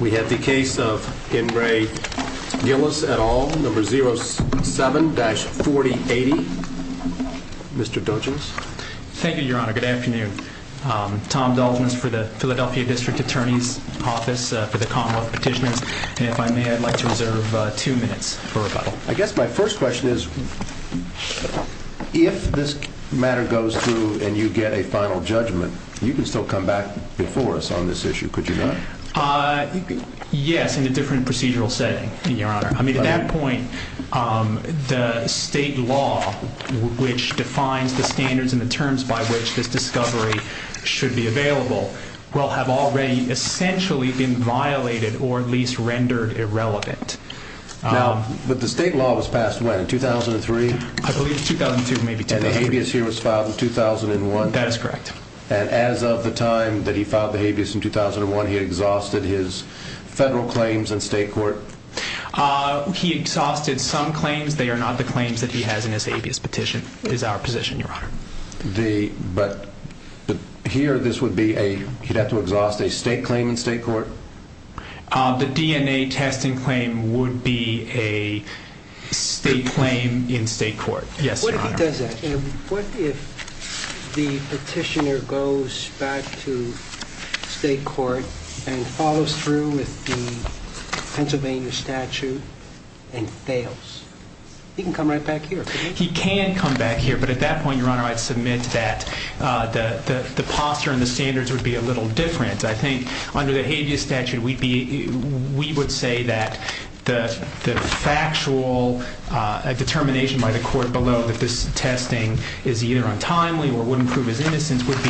We have the case of Henry Gillis et al, number 07-4080. Mr. Dulgence. Thank you, Your Honor. Good afternoon. Tom Dulgence for the Philadelphia District Attorney's Office for the Commonwealth Petitioners. And if I may, I'd like to reserve two minutes for rebuttal. I guess my first question is, if this matter goes through and you get a final judgment, you can still come back before us on this issue, could you not? Yes, in a different procedural setting, Your Honor. I mean, at that point, the state law, which defines the standards and the terms by which this discovery should be available, will have already essentially been violated or at least rendered irrelevant. Now, but the state law was passed when, in 2003? I believe 2002, maybe 2003. And the habeas here was filed in 2001? That is correct. And as of the time that he filed the habeas in 2001, he exhausted his federal claims in state court? He exhausted some claims. They are not the claims that he has in his habeas petition, is our position, Your Honor. But here, this would be a, he'd have to exhaust a state claim in state court? The DNA testing claim would be a state claim in state court. Yes, Your Honor. And what if the petitioner goes back to state court and follows through with the Pennsylvania statute and fails? He can come right back here, can't he? He can come back here, but at that point, Your Honor, I'd submit that the posture and the standards would be a little different. I think under the habeas statute, we'd be, we would say that the factual determination by the court below that this testing is either untimely or wouldn't prove his innocence would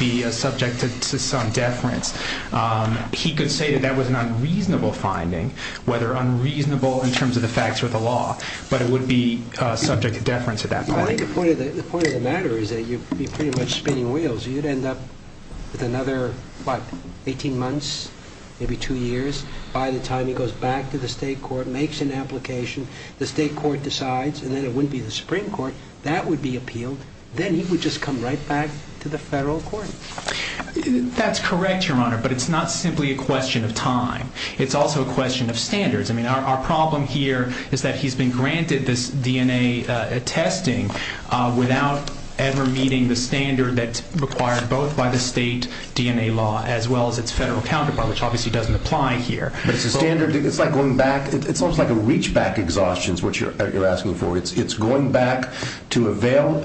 be subject to some deference. He could say that that was an unreasonable finding, whether unreasonable in terms of the facts or the law, but it would be subject to deference at that point. I think the point of the matter is that you'd be pretty much spinning wheels. You'd end up with another, what, 18 months, maybe two years by the time he goes back to the state court, makes an application. The state court decides, and then it wouldn't be the Supreme Court. That would be appealed. Then he would just come right back to the federal court. That's correct, Your Honor, but it's not simply a question of time. It's also a question of standards. I mean, our problem here is that he's been granted this DNA testing without ever meeting the standard that's required both by the state DNA law as well as its federal counterpart, which obviously doesn't apply here. It's a standard. It's like going back. It's almost like a reach back exhaustion is what you're asking for. It's going back to avail.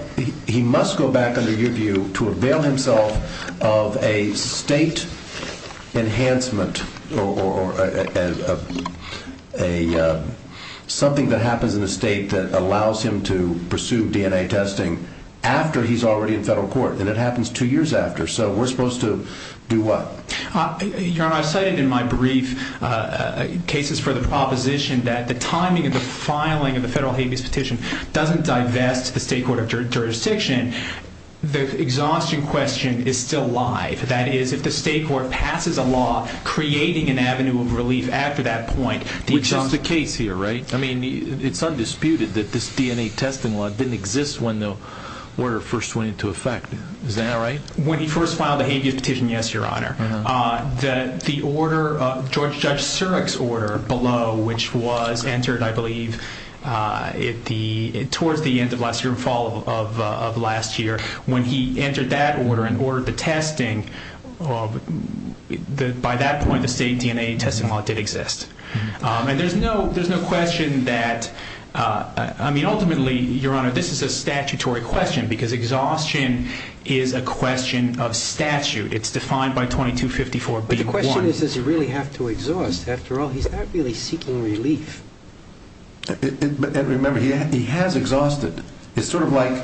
He must go back under your view to avail himself of a state enhancement or something that happens in the state that allows him to pursue DNA testing after he's already in federal court. It happens two years after, so we're supposed to do what? Your Honor, I've cited in my brief cases for the proposition that the timing of the filing of the federal habeas petition doesn't divest the state court of jurisdiction. The exhaustion question is still live. That is, if the state court passes a law creating an avenue of relief after that point, the exhaustion- Which is the case here, right? I mean, it's undisputed that this DNA testing law didn't exist when the order first went into effect. Is that right? When he first filed the habeas petition, yes, Your Honor. The order, Judge Surik's order below, which was entered, I believe, towards the end of last year, fall of last year. When he entered that order and ordered the testing, by that point, the state DNA testing law did exist. There's no question that... I mean, ultimately, Your Honor, this is a statutory question because exhaustion is a question of statute. It's defined by 2254-B-1. But the question is, does he really have to exhaust? After all, he's not really seeking relief. Remember, he has exhausted. It's sort of like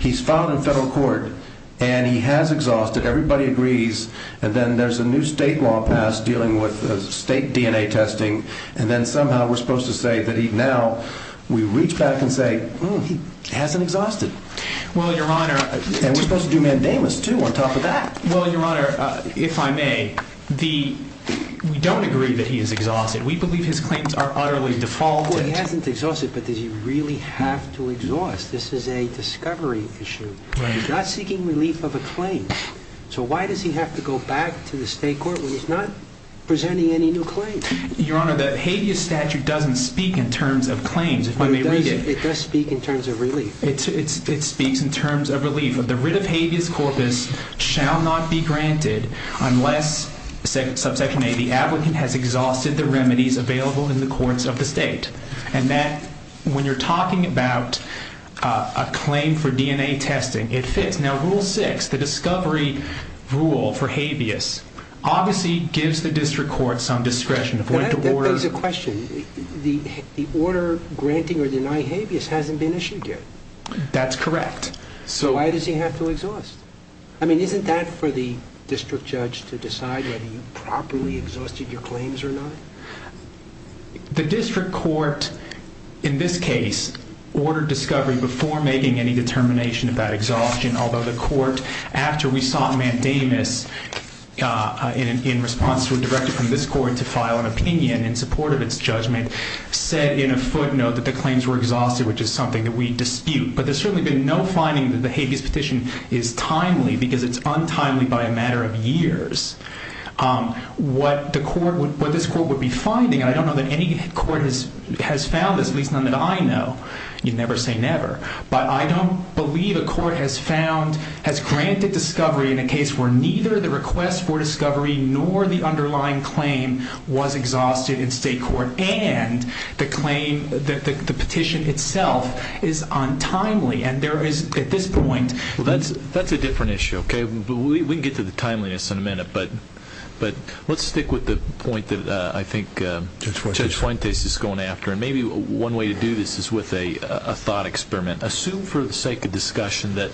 he's filed in federal court and he has exhausted. Everybody agrees. Then, there's a new state law passed dealing with state DNA testing and then, somehow, we're supposed to say that now, we reach back and say, hmm, he hasn't exhausted. Well, Your Honor... And we're supposed to do mandamus, too, on top of that. Well, Your Honor, if I may, we don't agree that he has exhausted. We believe his claims are utterly defaulted. Well, he hasn't exhausted, but does he really have to exhaust? This is a discovery issue. Right. He's not seeking relief of a claim. So why does he have to go back to the state court when he's not presenting any new claims? Your Honor, the habeas statute doesn't speak in terms of claims, if I may read it. It does speak in terms of relief. It speaks in terms of relief. The writ of habeas corpus shall not be granted unless, subsection A, the applicant has exhausted the remedies available in the courts of the state. And that, when you're talking about a claim for DNA testing, it fits. Now, rule six, the discovery rule for habeas, obviously gives the district court some discretion to avoid the order... That begs a question. The order granting or denying habeas hasn't been issued yet. That's correct. So why does he have to exhaust? I mean, isn't that for the district judge to decide whether you properly exhausted your claims or not? The district court, in this case, ordered discovery before making any determination about exhaustion, although the court, after we sought mandamus in response to a directive from this court to file an opinion in support of its judgment, said in a footnote that the claims were exhausted, which is something that we dispute. But there's certainly been no finding that the habeas petition is timely, because it's untimely by a matter of years. What this court would be finding, and I don't know that any court has found this, at least none that I know, you never say never, but I don't believe a court has found, has granted discovery in a case where neither the request for discovery nor the underlying claim was exhausted in state court, and the claim, the petition itself is untimely. And there is, at this point... That's a different issue, okay? We can get to the timeliness in a minute. But let's stick with the point that I think Judge Fuentes is going after, and maybe one way to do this is with a thought experiment. Assume for the sake of discussion that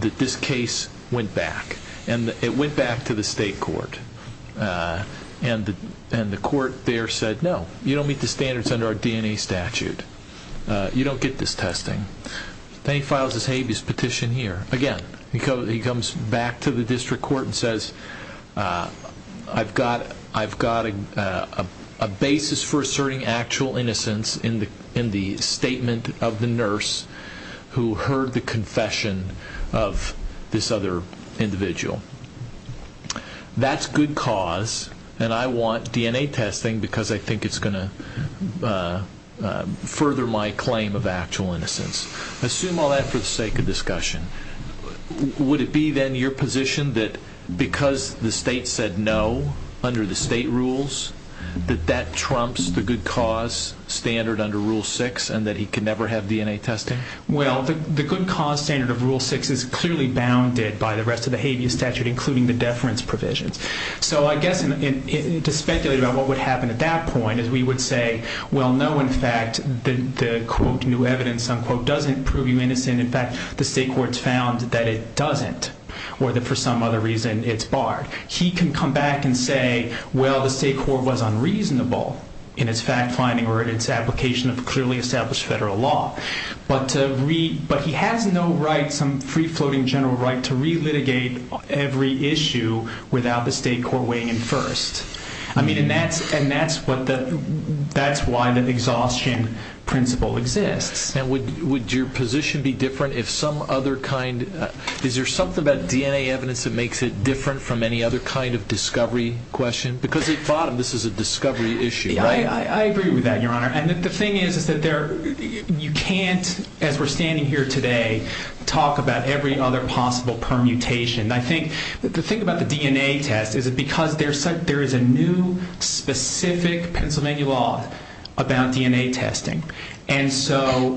this case went back, and it went back to the state court, and the court there said, no, you don't meet the standards under our DNA statute. You don't get this testing. Then he files his habeas petition here. Again, he comes back to the district court and says, I've got a basis for asserting actual innocence in the statement of the nurse who heard the confession of this other individual. That's good cause, and I want DNA testing because I think it's going to further my claim of actual innocence. Assume all that for the sake of discussion. Would it be then your position that because the state said no under the state rules, that that trumps the good cause standard under rule six, and that he can never have DNA testing? Well, the good cause standard of rule six is clearly bounded by the rest of the habeas statute, including the deference provisions. So I guess to speculate about what would happen at that point is we would say, well, no, in fact, the quote, new evidence, unquote, doesn't prove you innocent. In fact, the state court's found that it doesn't, or that for some other reason, it's barred. He can come back and say, well, the state court was unreasonable in its fact finding or in its application of clearly established federal law, but he has no right, some free floating general right, to re-litigate every issue without the state court weighing in first. I mean, and that's why the exhaustion principle exists. Would your position be different if some other kind... Is there something about DNA evidence that makes it different from any other kind of discovery question? Because at the bottom, this is a discovery issue, right? I agree with that, your honor. And the thing is, is that you can't, as we're standing here today, talk about every other possible permutation. I think the thing about the DNA test is that because there is a new specific Pennsylvania law about DNA testing. And so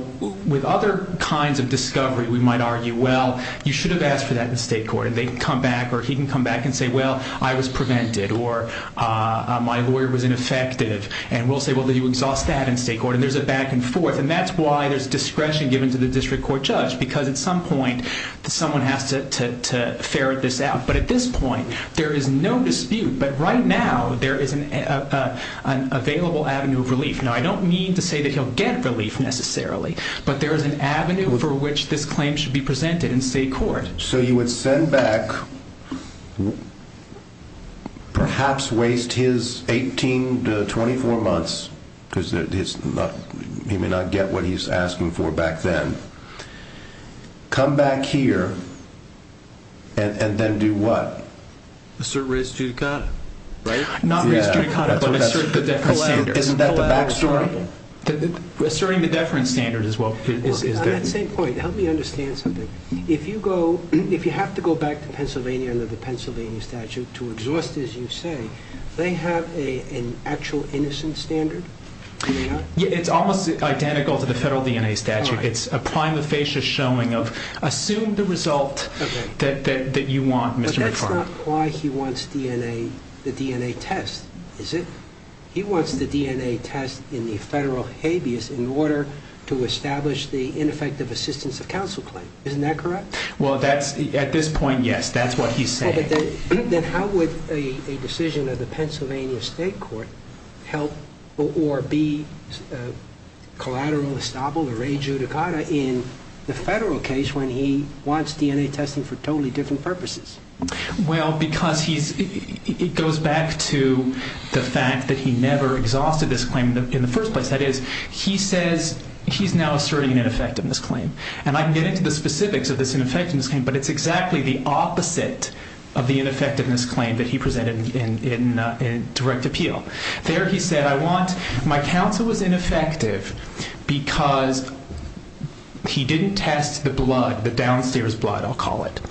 with other kinds of discovery, we might argue, well, you should have asked for that in state court. And they can come back, or he can come back and say, well, I was prevented, or my lawyer was ineffective. And we'll say, well, you exhaust that in state court, and there's a back and forth. And that's why there's discretion given to the district court judge, because at some point, someone has to ferret this out. But at this point, there is no dispute, but right now, there is an available avenue of relief. Now, I don't mean to say that he'll get relief necessarily, but there is an avenue for which this claim should be presented in state court. So you would send back, perhaps waste his 18 to 24 months, because he may not get what he's asking for back then. Come back here, and then do what? Assert res judicata. Right? Not res judicata, but assert the deference standard. Isn't that the back story? Asserting the deference standard is what is there. On that same point, help me understand something. If you go, if you have to go back to Pennsylvania under the Pennsylvania statute to exhaust, as you say, they have an actual innocence standard? Do they not? It's almost identical to the federal DNA statute. It's a prima facie showing of, assume the result that you want, Mr. McFarland. But that's not why he wants DNA, the DNA test, is it? He wants the DNA test in the federal habeas in order to establish the ineffective assistance of counsel claim. Isn't that correct? Well, at this point, yes. That's what he's saying. Well, then how would a decision of the Pennsylvania state court help or be collateral estoppel or re judicata in the federal case when he wants DNA testing for totally different purposes? Well, because he's, it goes back to the fact that he never exhausted this claim in the first place. That is, he says, he's now asserting an ineffectiveness claim. And I can get into the specifics of this ineffectiveness claim, but it's exactly the opposite of the ineffectiveness claim that he presented in direct appeal. There, he said, I want, my counsel was ineffective because he didn't test the blood, the downstairs blood, I'll call it.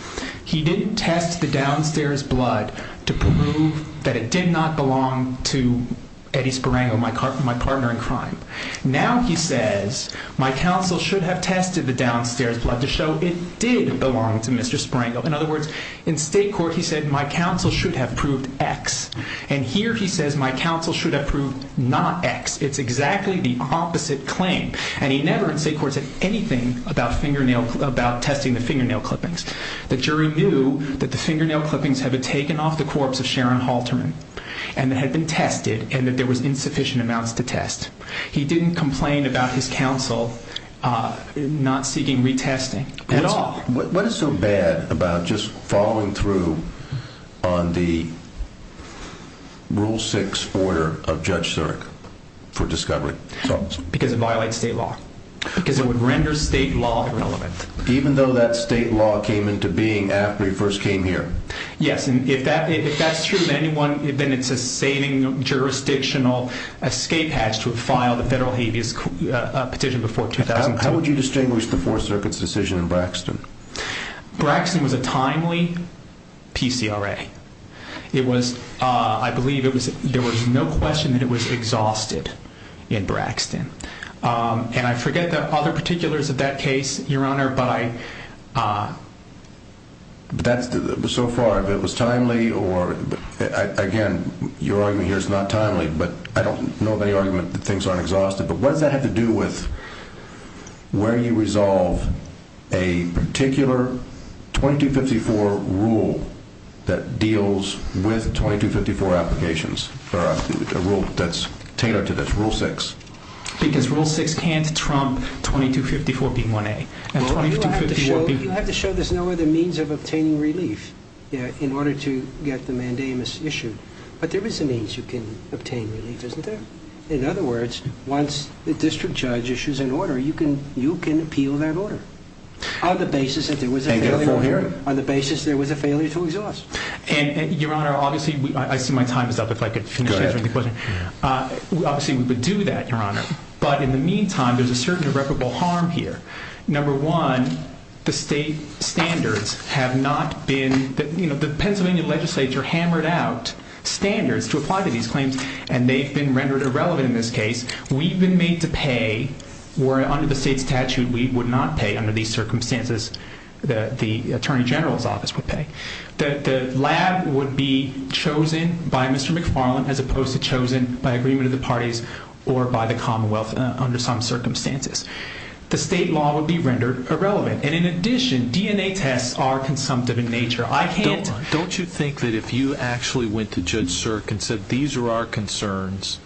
He didn't test the downstairs blood to prove that it did not belong to Eddie Sparango, my partner in crime. Now he says, my counsel should have tested the downstairs blood to show it did belong to Mr. Sparango. In other words, in state court, he said, my counsel should have proved X. And here he says, my counsel should have proved not X. It's exactly the opposite claim. And he never in state court said anything about fingernail, about testing the fingernail clippings. The jury knew that the fingernail clippings have been taken off the corpse of Sharon Halterman and that had been tested and that there was insufficient amounts to test. He didn't complain about his counsel not seeking retesting at all. What is so bad about just following through on the rule six order of Judge Sirk for discovery? Because it violates state law, because it would render state law irrelevant. Even though that state law came into being after he first came here? Yes. If that's true, then it's a saving jurisdictional escape hatch to file the federal habeas petition before 2010. How would you distinguish the Fourth Circuit's decision in Braxton? Braxton was a timely PCRA. It was, I believe, there was no question that it was exhausted in Braxton. And I forget the other particulars of that case, Your Honor, but I... So far, if it was timely or, again, your argument here is not timely, but I don't know of any argument that things aren't exhausted, but what does that have to do with where you resolve a particular 2254 rule that deals with 2254 applications, or a rule that's tailored to this rule six? Because rule six can't trump 2254 being 1A. You'll have to show there's no other means of obtaining relief in order to get the mandamus issued. But there is a means you can obtain relief, isn't there? In other words, once the district judge issues an order, you can appeal that order on the basis that there was a failure to exhaust. Your Honor, obviously, I see my time is up, if I could finish answering the question. Good. Obviously, we would do that, Your Honor, but in the meantime, there's a certain irreparable harm here. Number one, the state standards have not been... The Pennsylvania legislature hammered out standards to apply to these claims, and they've been rendered irrelevant in this case. We've been made to pay, where under the state's statute, we would not pay under these circumstances that the Attorney General's office would pay. The lab would be chosen by Mr. McFarland, as opposed to chosen by agreement of the parties or by the commonwealth under some circumstances. The state law would be rendered irrelevant, and in addition, DNA tests are consumptive in nature. I can't... Don't you think that if you actually went to Judge Sirk and said, these are our concerns,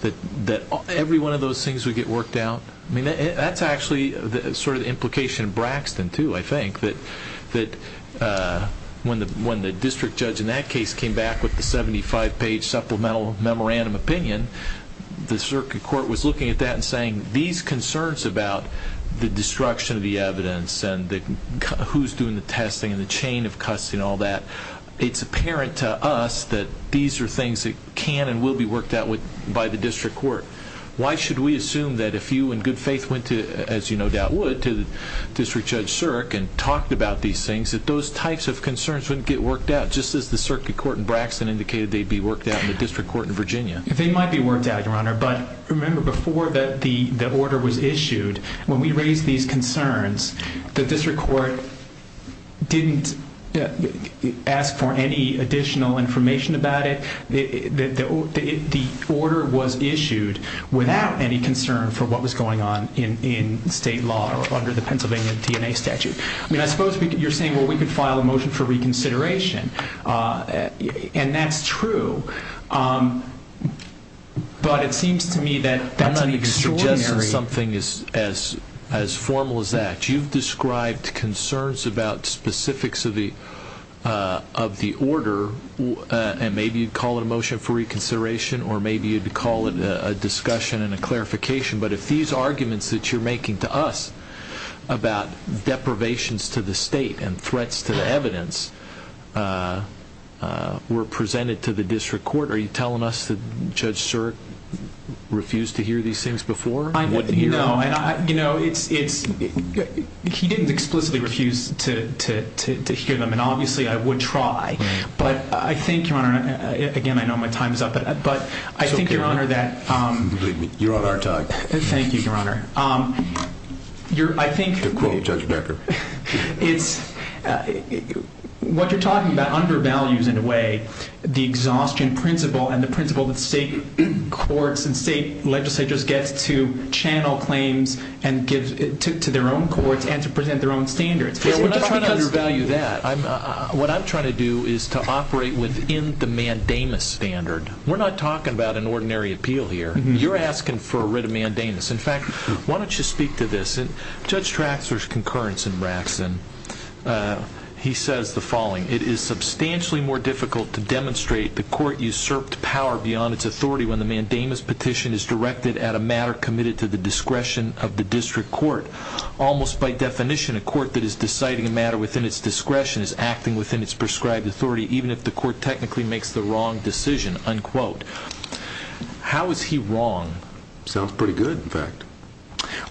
that every one of those things would get worked out? I mean, that's actually sort of the implication of Braxton, too, I think, that when the district judge in that case came back with the 75-page supplemental memorandum opinion, the circuit court was looking at that and saying, these concerns about the destruction of the evidence and who's doing the testing and the chain of custody and all that, it's apparent to us that these are things that can and will be worked out by the district court. Why should we assume that if you in good faith went to, as you no doubt would, to the district judge Sirk and talked about these things, that those types of concerns wouldn't get worked out? Just as the circuit court in Braxton indicated they'd be worked out in the district court in Virginia. They might be worked out, Your Honor, but remember, before the order was issued, when we raised these concerns, the district court didn't ask for any additional information about it. The order was issued without any concern for what was going on in state law under the Pennsylvania DNA statute. I suppose you're saying, well, we could file a motion for reconsideration, and that's true, but it seems to me that that's an extraordinary... I'm not even suggesting something as formal as that. You've described concerns about specifics of the order, and maybe you'd call it a motion for reconsideration, or maybe you'd call it a discussion and a clarification, but if these to the state and threats to the evidence were presented to the district court, are you telling us that Judge Sirk refused to hear these things before and wouldn't hear them? No. He didn't explicitly refuse to hear them, and obviously I would try, but I think, Your Honor... Again, I know my time's up, but I think, Your Honor, that... It's okay. Believe me, you're on our tag. Thank you, Your Honor. I think... I'm going to quote Judge Becker. What you're talking about undervalues, in a way, the exhaustion principle and the principle that state courts and state legislatures get to channel claims to their own courts and to present their own standards. Yeah, we're not trying to undervalue that. What I'm trying to do is to operate within the mandamus standard. We're not talking about an ordinary appeal here. You're asking for a writ of mandamus. In fact, why don't you speak to this? Judge Traxler's concurrence in Braxton, he says the following, It is substantially more difficult to demonstrate the court usurped power beyond its authority when the mandamus petition is directed at a matter committed to the discretion of the district court. Almost by definition, a court that is deciding a matter within its discretion is acting within its prescribed authority, even if the court technically makes the wrong decision. How is he wrong? Sounds pretty good, in fact.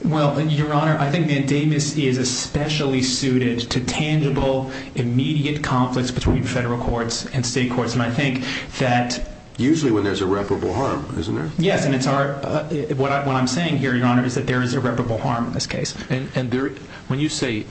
Well, Your Honor, I think the mandamus is especially suited to tangible, immediate conflicts between federal courts and state courts. And I think that... Usually when there's irreparable harm, isn't there? Yes, and what I'm saying here, Your Honor, is that there is irreparable harm in this case. And when you say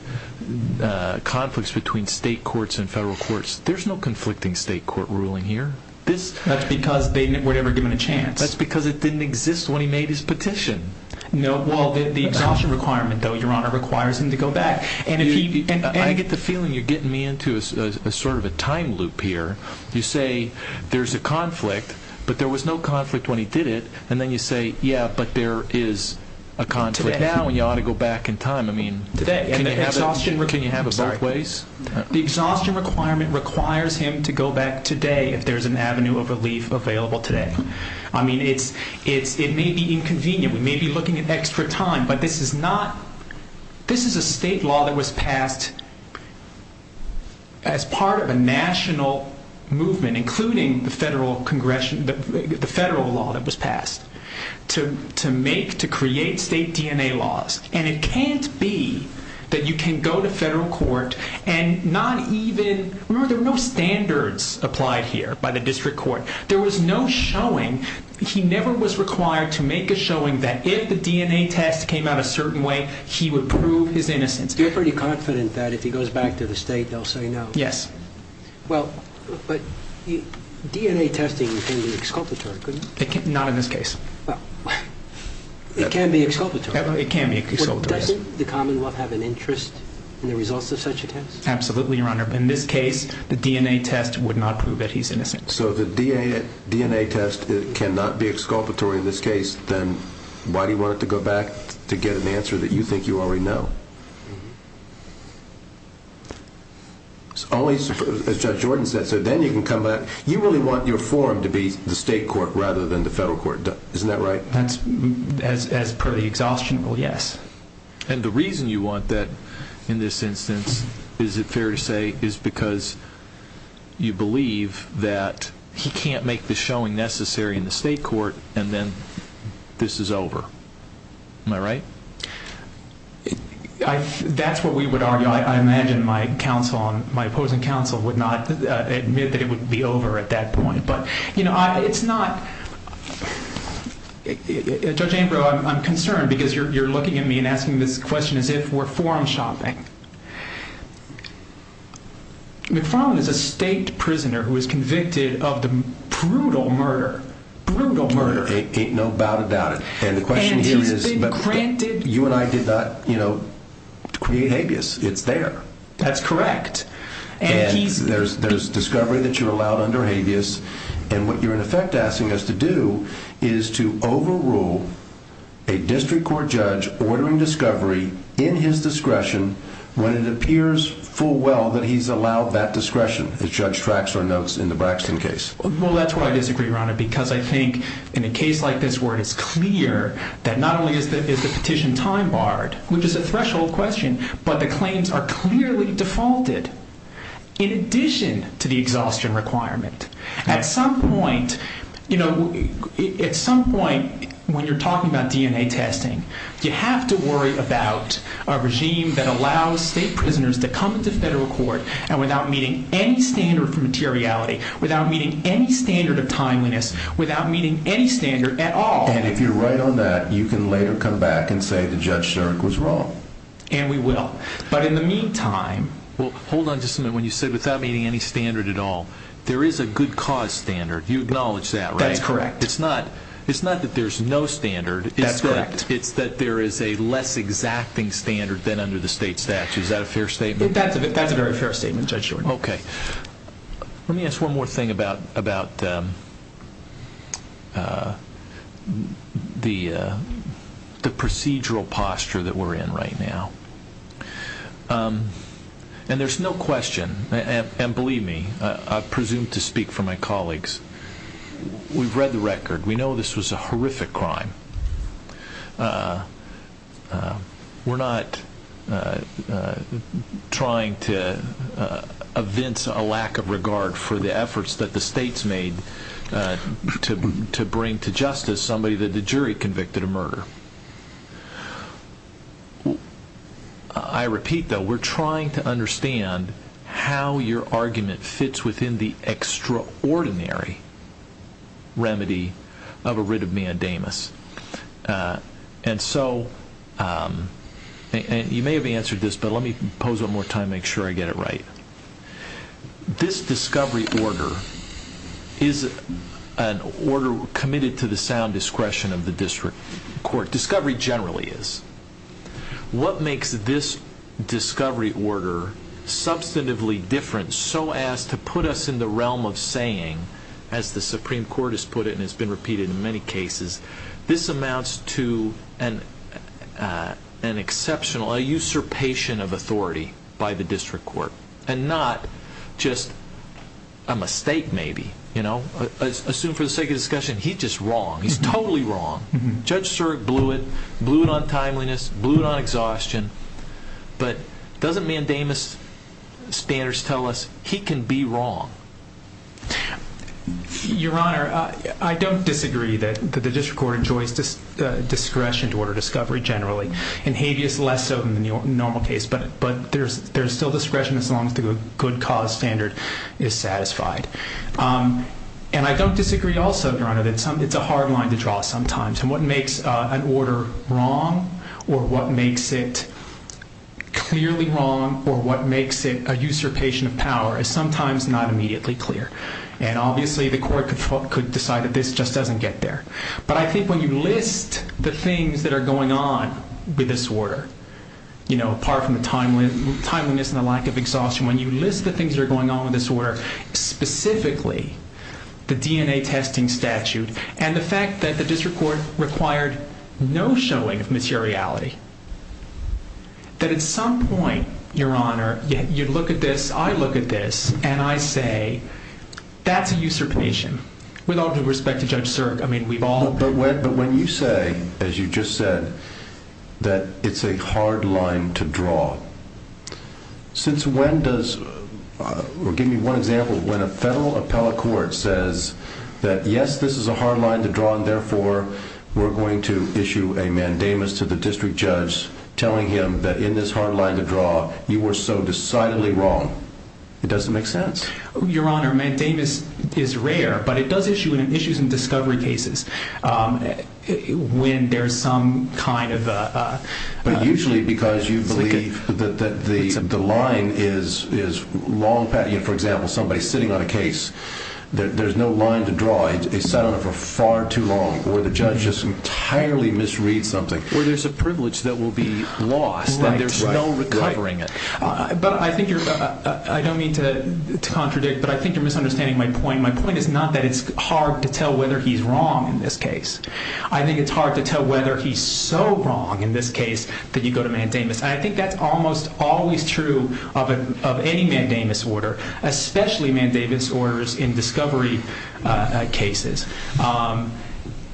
conflicts between state courts and federal courts, there's no conflicting state court ruling here. That's because they were never given a chance. That's because it didn't exist when he made his petition. No. Well, the exhaustion requirement, though, Your Honor, requires him to go back. And if he... I get the feeling you're getting me into a sort of a time loop here. You say there's a conflict, but there was no conflict when he did it. And then you say, yeah, but there is a conflict now and you ought to go back in time. I mean... Today. And the exhaustion... Can you have it both ways? The exhaustion requirement requires him to go back today if there's an avenue of relief available today. I mean, it may be inconvenient. We may be looking at extra time, but this is a state law that was passed as part of a national movement, including the federal law that was passed, to make, to create state DNA laws. And it can't be that you can go to federal court and not even... Remember, there were no standards applied here by the district court. There was no showing. He never was required to make a showing that if the DNA test came out a certain way, he would prove his innocence. You're pretty confident that if he goes back to the state, they'll say no? Yes. Well, but DNA testing can be exculpatory, couldn't it? Not in this case. Well, it can be exculpatory. It can be exculpatory. Doesn't the Commonwealth have an interest in the results of such a test? Absolutely, Your Honor. So the DNA test is... If it cannot be exculpatory in this case, then why do you want it to go back to get an answer that you think you already know? As Judge Jordan said, so then you can come back... You really want your forum to be the state court rather than the federal court, isn't that right? As per the exhaustion rule, yes. And the reason you want that in this instance, is it fair to say, is because you believe that he can't make the showing necessary in the state court, and then this is over. Am I right? That's what we would argue. I imagine my opposing counsel would not admit that it would be over at that point. But it's not... Judge Ambrose, I'm concerned because you're looking at me and asking this question as if we're forum shopping. McFarland is a state prisoner who was convicted of the brutal murder. Brutal murder. Ain't no doubt about it. And the question here is... And he's been granted... You and I did not create habeas. It's there. That's correct. And he's... There's discovery that you're allowed under habeas, and what you're in effect asking us to do is to overrule a district court judge ordering discovery in his discretion of a district court. When it appears full well that he's allowed that discretion, as Judge Traxler notes in the Braxton case. Well, that's why I disagree, Your Honor, because I think in a case like this where it's clear that not only is the petition time barred, which is a threshold question, but the claims are clearly defaulted in addition to the exhaustion requirement. At some point, when you're talking about DNA testing, you have to worry about a regime that allows state prisoners to come to federal court and without meeting any standard for materiality, without meeting any standard of timeliness, without meeting any standard at all. And if you're right on that, you can later come back and say that Judge Sterk was wrong. And we will. But in the meantime... Well, hold on just a minute. When you said without meeting any standard at all, there is a good cause standard. You acknowledge that, right? That's correct. It's not that there's no standard. That's correct. It's that there is a less exacting standard than under the state statute. Is that a fair statement? That's a very fair statement, Judge Jordan. Okay. Let me ask one more thing about the procedural posture that we're in right now. And there's no question, and believe me, I presume to speak for my colleagues, we've read the record. We know this was a horrific crime. We're not trying to evince a lack of regard for the efforts that the states made to bring to justice somebody that the jury convicted of murder. I repeat, though, we're trying to understand how your argument fits within the extraordinary remedy of a writ of meandamus. And so, you may have answered this, but let me pose it one more time to make sure I get it right. This discovery order is an order committed to the sound discretion of the district court. Discovery generally is. What makes this discovery order substantively different so as to put us in the realm of saying, as the Supreme Court has put it and has been repeated in many cases, this amounts to an exceptional, a usurpation of authority by the district court and not just a mistake maybe. Assume for the sake of discussion, he's just wrong. He's totally wrong. Judge Sirk blew it, blew it on timeliness, blew it on exhaustion, but doesn't meandamus standards tell us he can be wrong? Your Honor, I don't disagree that the district court enjoys discretion to order discovery generally and habeas less so than the normal case, but there's still discretion as long as the good cause standard is satisfied. And I don't disagree also, Your Honor, that it's a hard line to draw sometimes. What makes an order wrong or what makes it clearly wrong or what makes it a usurpation of power is sometimes not immediately clear. And obviously the court could decide that this just doesn't get there. But I think when you list the things that are going on with this order, you know, apart from the timeliness and the lack of exhaustion, when you list the things that are going on with this order, specifically the DNA testing statute and the fact that the district court required no showing of materiality, that at some point, Your Honor, you look at this, I look at this, and I say that's a usurpation. With all due respect to Judge Sirk, I mean, we've all... But when you say, as you just said, that it's a hard line to draw, since when does, or give me one example, when a federal appellate court says that yes, this is a hard line to draw and therefore we're going to issue a mandamus to the district judge telling him that in this hard line to draw, you were so decidedly wrong, it doesn't make sense. Your Honor, mandamus is rare, but it does issue in issues in discovery cases when there's some kind of... But usually because you believe that the line is long... For example, somebody sitting on a case, there's no line to draw. They sat on it for far too long or the judge just entirely misread something. Or there's a privilege that will be lost and there's no recovering it. But I think you're... I don't mean to contradict, but I think you're misunderstanding my point. My point is not that it's hard to tell whether he's wrong in this case. I think it's hard to tell whether he's so wrong in this case that you go to mandamus. And I think that's almost always true of any mandamus order, especially mandamus orders in discovery cases.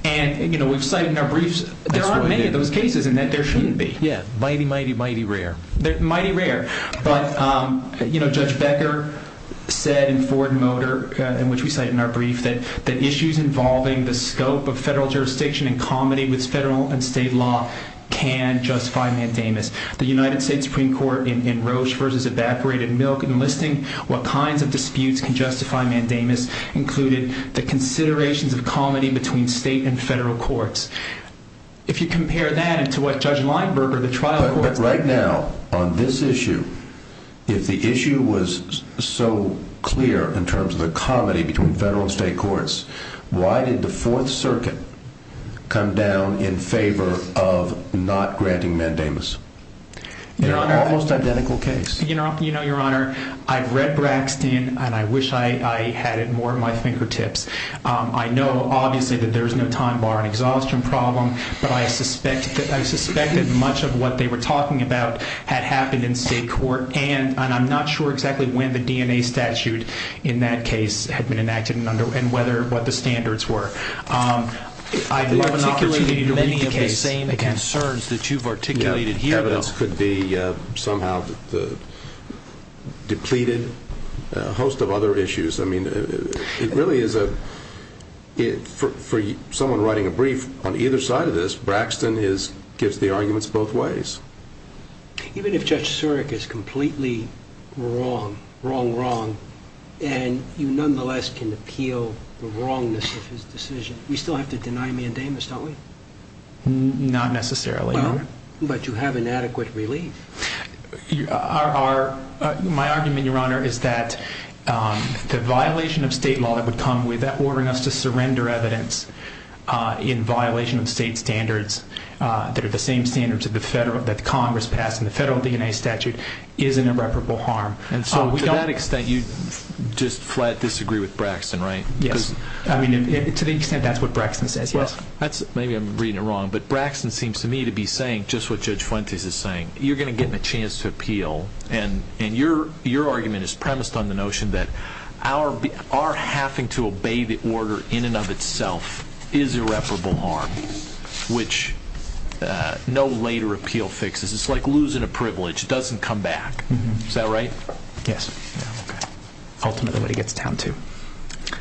And we've cited in our briefs... There aren't many of those cases in that there shouldn't be. Yeah, mighty, mighty, mighty rare. Mighty rare. But Judge Becker said in Ford Motor, in which we cite in our brief, that issues involving the scope of federal jurisdiction in comedy with federal and state law can justify mandamus. The United States Supreme Court in Roche v. Evaporated Milk enlisting what kinds of disputes can justify mandamus included the considerations of comedy between state and federal courts. If you compare that to what Judge Lineberger, the trial court... But right now, on this issue, if the issue was so clear in terms of the comedy between federal and state courts, why did the Fourth Circuit come down in favor of not granting mandamus? Your Honor... In an almost identical case. You know, Your Honor, I've read Braxton, and I wish I had it more at my fingertips. I know, obviously, that there's no time bar on exhaustion problem, but I suspect that much of what they were talking about had happened in state court, and I'm not sure exactly when the DNA statute in that case had been enacted and what the standards were. I'd love an opportunity to read the case again. What you've articulated here, though... Evidence could be somehow depleted, a host of other issues. I mean, it really is a... For someone writing a brief, on either side of this, Braxton gives the arguments both ways. Even if Judge Surik is completely wrong, wrong, wrong, and you nonetheless can appeal the wrongness of his decision, we still have to deny mandamus, don't we? Not necessarily, Your Honor. But you have inadequate relief. My argument, Your Honor, is that the violation of state law that would come with ordering us to surrender evidence in violation of state standards that are the same standards that Congress passed in the federal DNA statute is an irreparable harm. And so to that extent, you just flat disagree with Braxton, right? Yes. I mean, to the extent that's what Braxton says, yes. Maybe I'm reading it wrong, but Braxton seems to me to be saying just what Judge Fuentes is saying. You're going to give him a chance to appeal, and your argument is premised on the notion that our having to obey the order in and of itself is irreparable harm, which no later appeal fixes. It's like losing a privilege. It doesn't come back. Is that right? Yes. Ultimately, what he gets down to.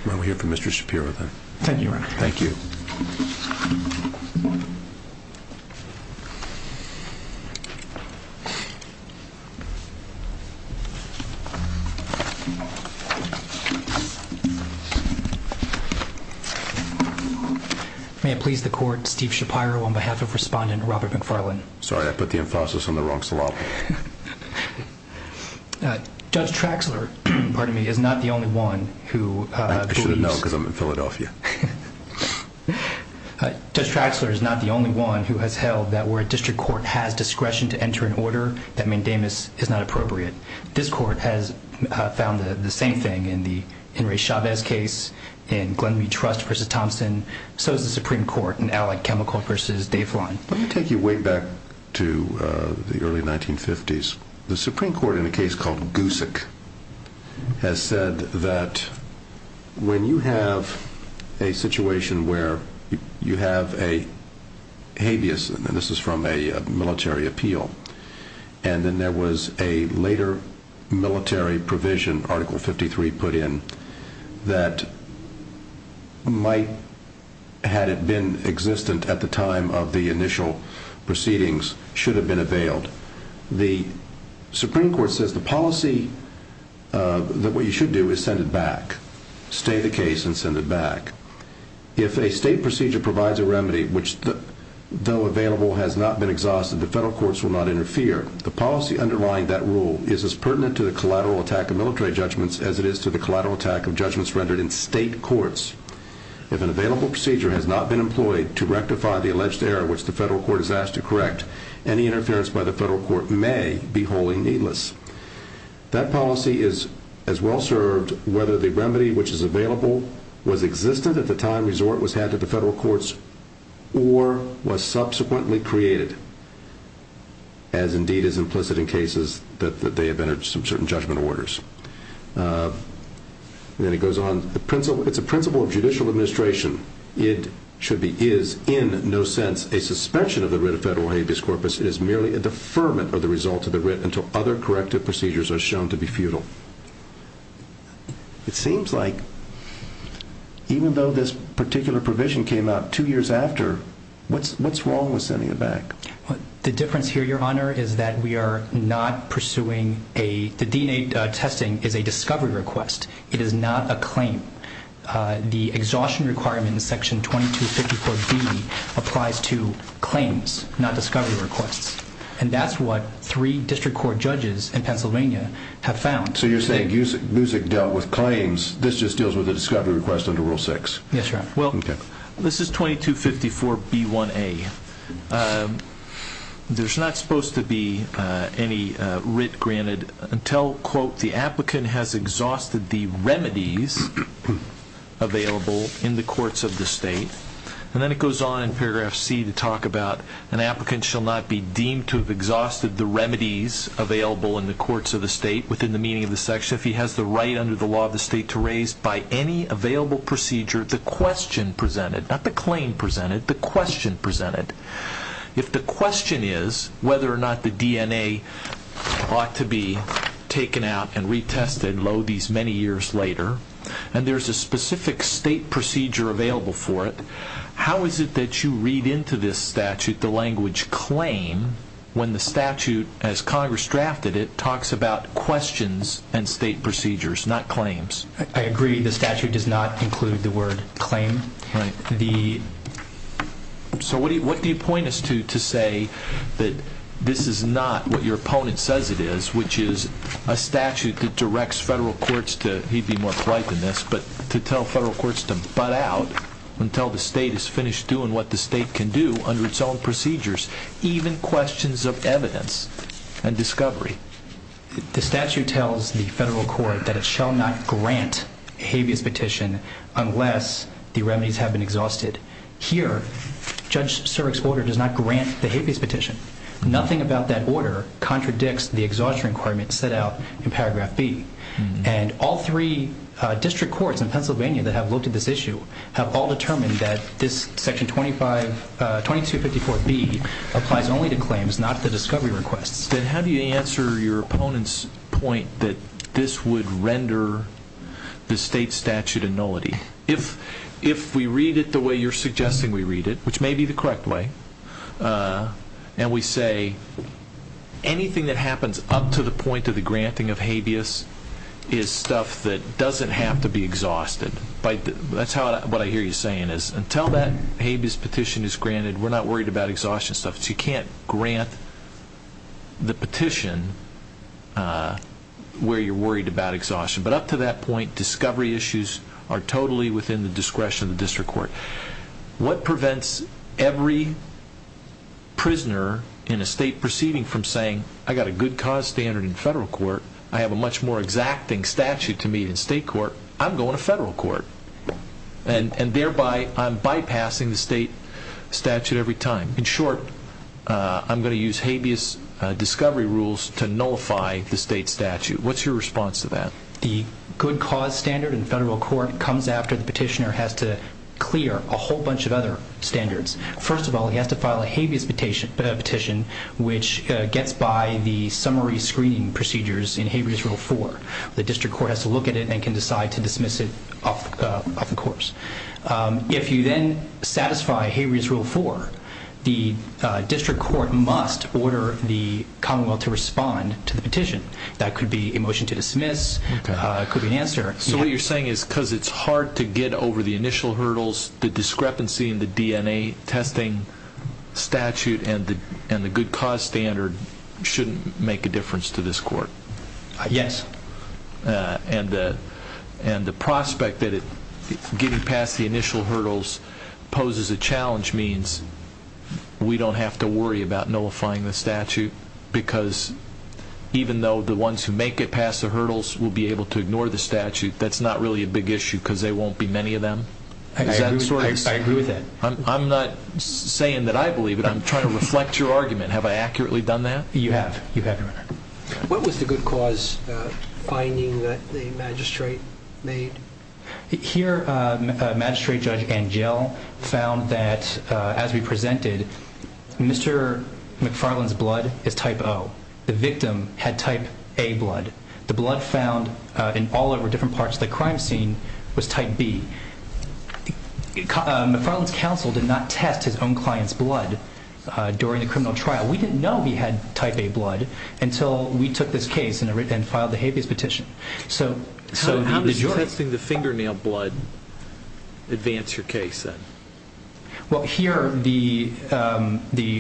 Well, we're here for Mr. Shapiro, then. Thank you, Your Honor. Thank you. May it please the Court, Steve Shapiro on behalf of Respondent Robert McFarlane. Sorry, I put the emphasis on the wrong syllable. Judge Traxler, pardon me, is not the only one who believes. No, because I'm in Philadelphia. Judge Traxler is not the only one who has held that where a district court has discretion to enter an order, that mandamus is not appropriate. This Court has found the same thing in the Henry Chavez case, in Glenn Mead Trust v. Thompson. So has the Supreme Court in Alley Chemical v. Dave Line. Let me take you way back to the early 1950s. The Supreme Court in a case called Goosick has said that when you have a situation where you have a habeas, and this is from a military appeal, and then there was a later military provision, Article 53 put in, that might, had it been existent at the time of the initial proceedings, should have been availed. The Supreme Court says the policy, that what you should do is send it back. Stay the case and send it back. If a state procedure provides a remedy which, though available, has not been exhausted, the federal courts will not interfere. The policy underlying that rule is as pertinent to the collateral attack of military judgments as it is to the collateral attack of judgments rendered in state courts. If an available procedure has not been employed to rectify the alleged error which the federal court has asked to correct, any interference by the federal court may be wholly needless. That policy is as well served whether the remedy which is available was existent at the time resort was had to the federal courts or was subsequently created, as indeed is implicit in cases that they have entered some certain judgment orders. Then it goes on. It's a principle of judicial administration. It should be is in no sense a suspension of the writ of federal habeas corpus. It is merely a deferment of the result of the writ until other corrective procedures are shown to be futile. It seems like even though this particular provision came out two years after, what's wrong with sending it back? The difference here, Your Honor, is that we are not pursuing a, the DNA testing is a discovery request. It is not a claim. The exhaustion requirement in section 2254B applies to claims, not discovery requests. And that's what three district court judges in Pennsylvania have found. So you're saying Musick dealt with claims. This just deals with a discovery request under Rule 6. Yes, Your Honor. Well, this is 2254B1A. There's not supposed to be any writ granted until, quote, the applicant has exhausted the remedies available in the courts of the state. And then it goes on in paragraph C to talk about an applicant shall not be deemed to have exhausted the remedies available in the courts of the state within the meaning of the section if he has the right under the law of the state to raise by any available procedure the question presented, not the claim presented, the question presented. If the question is whether or not the DNA ought to be taken out and retested, lo these many years later, and there's a specific state procedure available for it, how is it that you read into this statute the language claim when the statute, as Congress drafted it, talks about questions and state procedures, not claims? I agree the statute does not include the word claim. Right. So what do you point us to to say that this is not what your opponent says it is, which is a statute that directs federal courts to, he'd be more polite than this, but to tell federal courts to butt out until the state is finished doing what the state can do under its own procedures, even questions of evidence and discovery? The statute tells the federal court that it shall not grant habeas petition unless the claim is exhausted. Here, Judge Surek's order does not grant the habeas petition. Nothing about that order contradicts the exhaustion requirement set out in paragraph B. And all three district courts in Pennsylvania that have looked at this issue have all determined that this section 2254B applies only to claims, not to discovery requests. Then how do you answer your opponent's point that this would render the state statute a nullity? If we read it the way you're suggesting we read it, which may be the correct way, and we say anything that happens up to the point of the granting of habeas is stuff that doesn't have to be exhausted. That's what I hear you saying is until that habeas petition is granted, we're not worried about exhaustion stuff. You can't grant the petition where you're worried about exhaustion. But up to that point, discovery issues are totally within the discretion of the district court. What prevents every prisoner in a state proceeding from saying, I got a good cause standard in federal court. I have a much more exacting statute to meet in state court. I'm going to federal court. And thereby, I'm bypassing the state statute every time. In short, I'm going to use habeas discovery rules to nullify the state statute. What's your response to that? The good cause standard in federal court comes after the petitioner has to clear a whole bunch of other standards. First of all, he has to file a habeas petition, which gets by the summary screening procedures in habeas rule four. The district court has to look at it and can decide to dismiss it off the course. If you then satisfy habeas rule four, the district court must order the commonwealth to respond to the petition. That could be a motion to dismiss. It could be an answer. So what you're saying is because it's hard to get over the initial hurdles, the discrepancy in the DNA testing statute and the good cause standard shouldn't make a difference to this court? Yes. And the prospect that getting past the initial hurdles poses a challenge means we don't have to worry about nullifying the statute because even though the ones who make it past the hurdles will be able to ignore the statute, that's not really a big issue because there won't be many of them? I agree with that. I'm not saying that I believe it. I'm trying to reflect your argument. Have I accurately done that? You have. You have, Your Honor. What was the good cause finding that the magistrate made? Here Magistrate Judge Angell found that as we presented, Mr. McFarland's blood is type O. The victim had type A blood. The blood found in all over different parts of the crime scene was type B. McFarland's counsel did not test his own client's blood during the criminal trial. We didn't know he had type A blood until we took this case and filed the habeas petition. So how does testing the fingernail blood advance your case then? Well, here the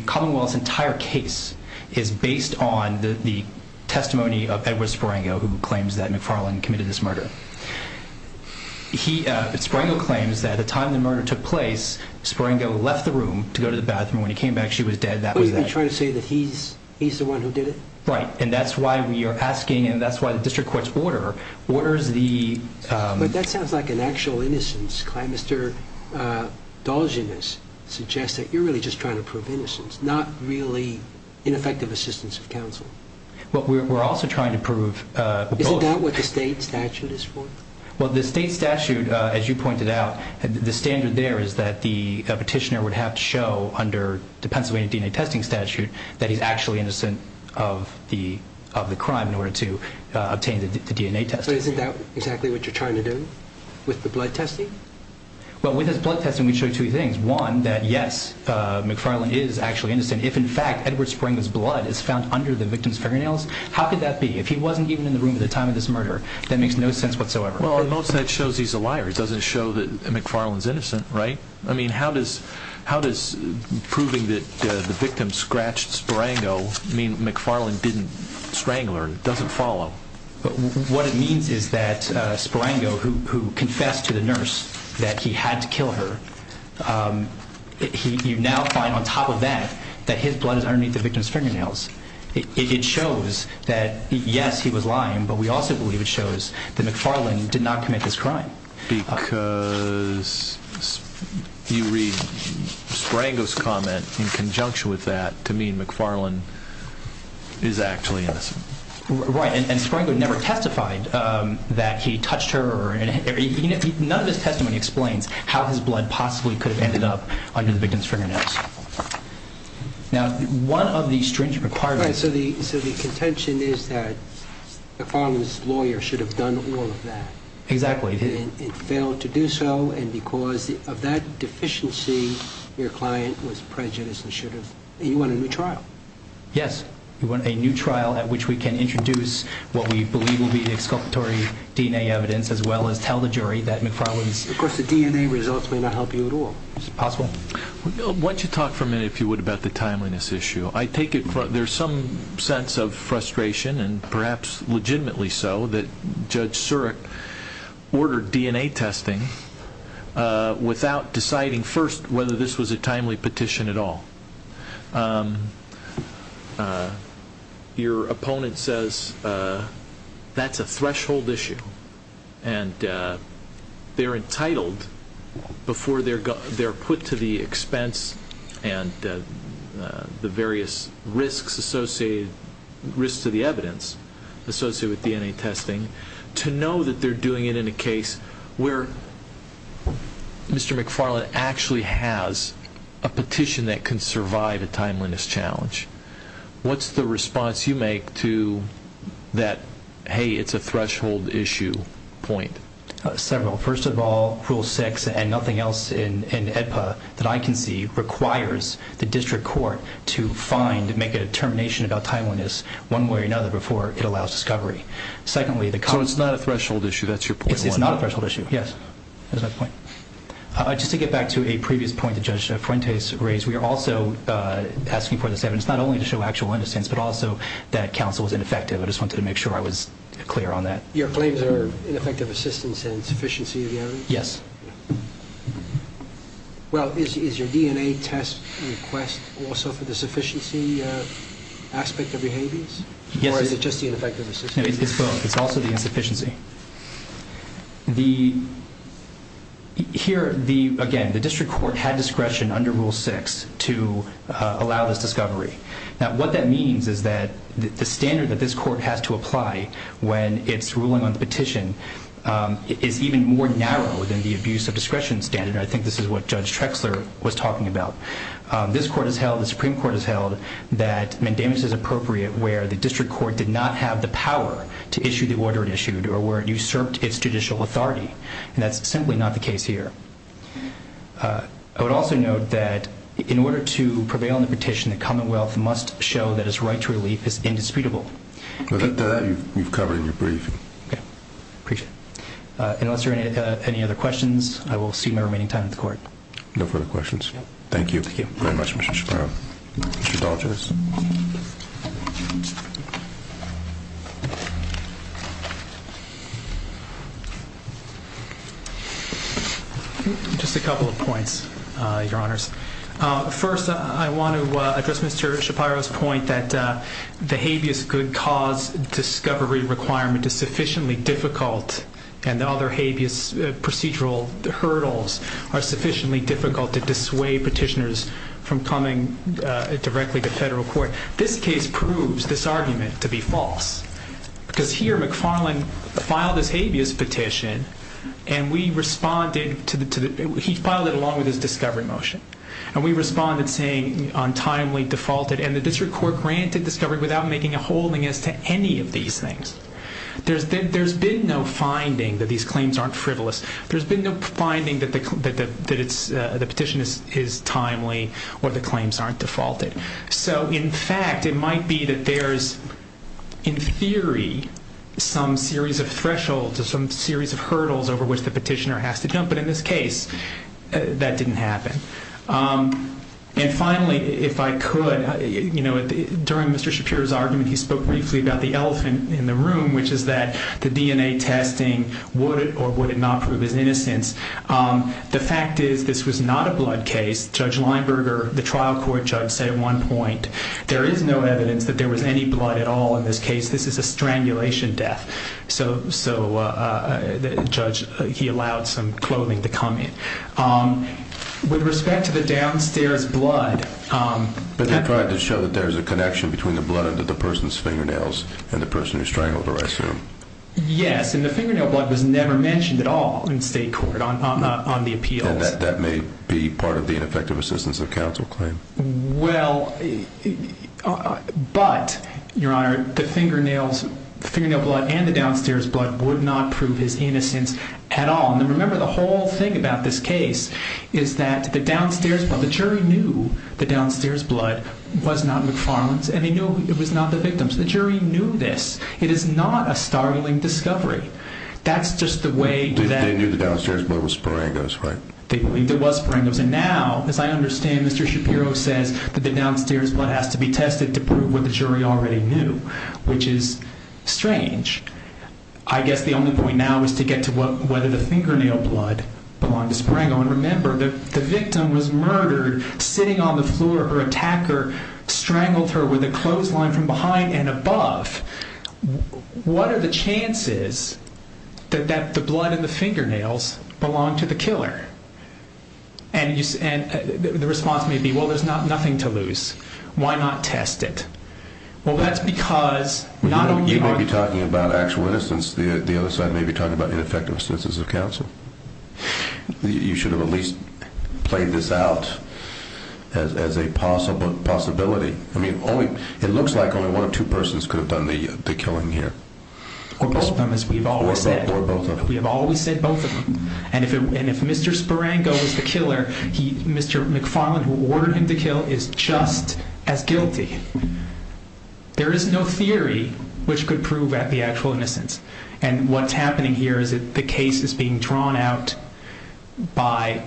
Commonwealth's entire case is based on the testimony of Edward Sparango who claims that McFarland committed this murder. Sparango claims that at the time the murder took place, Sparango left the room to go to the bathroom. When he came back, she was dead. Are you trying to say that he's the one who did it? Right. And that's why we are asking and that's why the district court's order orders the... But that sounds like an actual innocence claim. Mr. Dolgeness suggests that you're really just trying to prove innocence, not really ineffective assistance of counsel. Well, we're also trying to prove both. Is it not what the state statute is for? Well, the state statute, as you pointed out, the standard there is that the petitioner would have to show under the Pennsylvania DNA testing statute that he's actually innocent of the crime in order to obtain the DNA test. But isn't that exactly what you're trying to do with the blood testing? Well, with his blood testing, we show two things. One, that yes, McFarland is actually innocent. If in fact Edward Sparango's blood is found under the victim's fingernails, how could that be? If he wasn't even in the room at the time of this murder, that makes no sense whatsoever. Well, most of that shows he's a liar. It doesn't show that McFarland's innocent, right? I mean, how does proving that the victim scratched Sparango mean McFarland didn't strangle her, doesn't follow? What it means is that Sparango, who confessed to the nurse that he had to kill her, you now find on top of that that his blood is underneath the victim's fingernails. It shows that, yes, he was lying, but we also believe it shows that McFarland did not commit this crime. Because you read Sparango's comment in conjunction with that to mean McFarland is actually innocent. Right. And Sparango never testified that he touched her. None of his testimony explains how his blood possibly could have ended up under the victim's fingernails. Now, one of the strange requirements... Right. So the contention is that McFarland's lawyer should have done all of that. Exactly. And failed to do so, and because of that deficiency, your client was prejudiced and should have... And you want a new trial. Yes, we want a new trial at which we can introduce what we believe will be the exculpatory DNA evidence as well as tell the jury that McFarland's... Of course, the DNA results may not help you at all. It's possible. Why don't you talk for a minute, if you would, about the timeliness issue. I take it there's some sense of frustration, and perhaps legitimately so, that Judge Surik ordered DNA testing without deciding first whether this was a timely petition at all. Your opponent says that's a threshold issue, and they're entitled before they're put to the expense and the various risks associated... to know that they're doing it in a case where Mr. McFarland actually has a petition that can survive a timeliness challenge. What's the response you make to that, hey, it's a threshold issue point? Several. First of all, Rule 6 and nothing else in AEDPA that I can see requires the district court to find and make a determination about timeliness one way or another before it allows discovery. So it's not a threshold issue, that's your point? It's not a threshold issue, yes. That's my point. Just to get back to a previous point that Judge Fuentes raised, we are also asking for this evidence not only to show actual innocence, but also that counsel was ineffective. I just wanted to make sure I was clear on that. Your claims are ineffective assistance and sufficiency of the evidence? Yes. Well, is your DNA test request also for the sufficiency aspect of behaviors? Yes. Or is it just the ineffective assistance? It's both, it's also the insufficiency. Here, again, the district court had discretion under Rule 6 to allow this discovery. Now, what that means is that the standard that this court has to apply when it's ruling on the petition is even more narrow than the abuse of discretion standard, and I think this is what Judge Trexler was talking about. This court has held, the Supreme Court has held, that mandamus is appropriate where the district court did not have the power to issue the order it issued or where it usurped its judicial authority, and that's simply not the case here. I would also note that in order to prevail on the petition, the Commonwealth must show that its right to relief is indisputable. That you've covered in your briefing. Okay. Appreciate it. Unless there are any other questions, I will see you in my remaining time at the court. No further questions. Thank you very much, Mr. Shapiro. Mr. Daughters. Just a couple of points, Your Honors. First, I want to address Mr. Shapiro's point that the habeas cause discovery requirement is sufficiently difficult and the other habeas procedural hurdles are sufficiently difficult to dissuade petitioners from coming directly to federal court. This case proves this argument to be false because here McFarland filed his habeas petition and we responded to the... He filed it along with his discovery motion and we responded saying untimely, defaulted, and the district court granted discovery without making a holding as to any of these things. There's been no finding that these claims aren't frivolous. There's been no finding that the petition is timely or the claims aren't defaulted. So in fact, it might be that there's, in theory, some series of thresholds or some series of hurdles over which the petitioner has to jump, but in this case, that didn't happen. And finally, if I could, you know, during Mr. Shapiro's argument, he spoke briefly about the elephant in the room, which is that the DNA testing would or would not prove his innocence. The fact is, this was not a blood case. Judge Leinberger, the trial court judge, said at one point, there is no evidence that there was any blood at all in this case. This is a strangulation death. So, uh, the judge, he allowed some clothing to come in. With respect to the downstairs blood... But they tried to show that there's a connection and the person who strangled her, I assume. Yes, and the fingernail blood was never mentioned at all in state court on the appeals. And that may be part of the ineffective assistance of counsel claim. Well... But, Your Honor, the fingernails, the fingernail blood and the downstairs blood would not prove his innocence at all. And remember, the whole thing about this case is that the downstairs blood, the jury knew the downstairs blood was not McFarlane's and they knew it was not the victim's. The jury knew this. It is not a startling discovery. That's just the way that... They knew the downstairs blood was Sparengo's, right? They believed it was Sparengo's. And now, as I understand, Mr. Shapiro says that the downstairs blood has to be tested to prove what the jury already knew, which is strange. I guess the only point now is to get to whether the fingernail blood belonged to Sparengo. And remember, the victim was murdered sitting on the floor. Her attacker strangled her with a clothesline from behind and above. What are the chances that the blood in the fingernails belonged to the killer? And the response may be, well, there's nothing to lose. Why not test it? Well, that's because... You may be talking about actual innocence. The other side may be talking about ineffective sentences of counsel. You should have at least played this out as a possibility. I mean, it looks like only one of two persons could have done the killing here. Or both of them, as we've always said. We have always said both of them. And if Mr. Sparengo is the killer, Mr. McFarland, who ordered him to kill, is just as guilty. There is no theory which could prove the actual innocence. And what's happening here is that the case is being drawn out by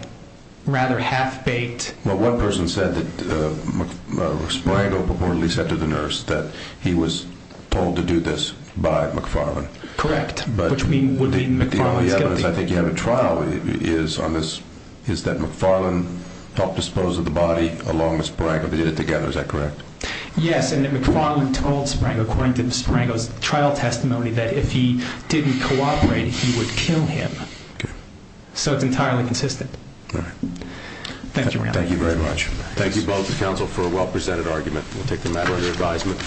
rather half-baked... Well, one person said that Mr. Sparengo purportedly said to the nurse that he was told to do this by McFarland. Correct, which would mean McFarland is guilty. The evidence I think you have at trial is that McFarland helped dispose of the body along with Sparengo. They did it together, is that correct? Yes, and McFarland told Sparengo according to Sparengo's trial testimony that if he didn't cooperate, he would kill him. So it's entirely consistent. All right. Thank you very much. Thank you both, the counsel, for a well-presented argument. We'll take the matter under advisement.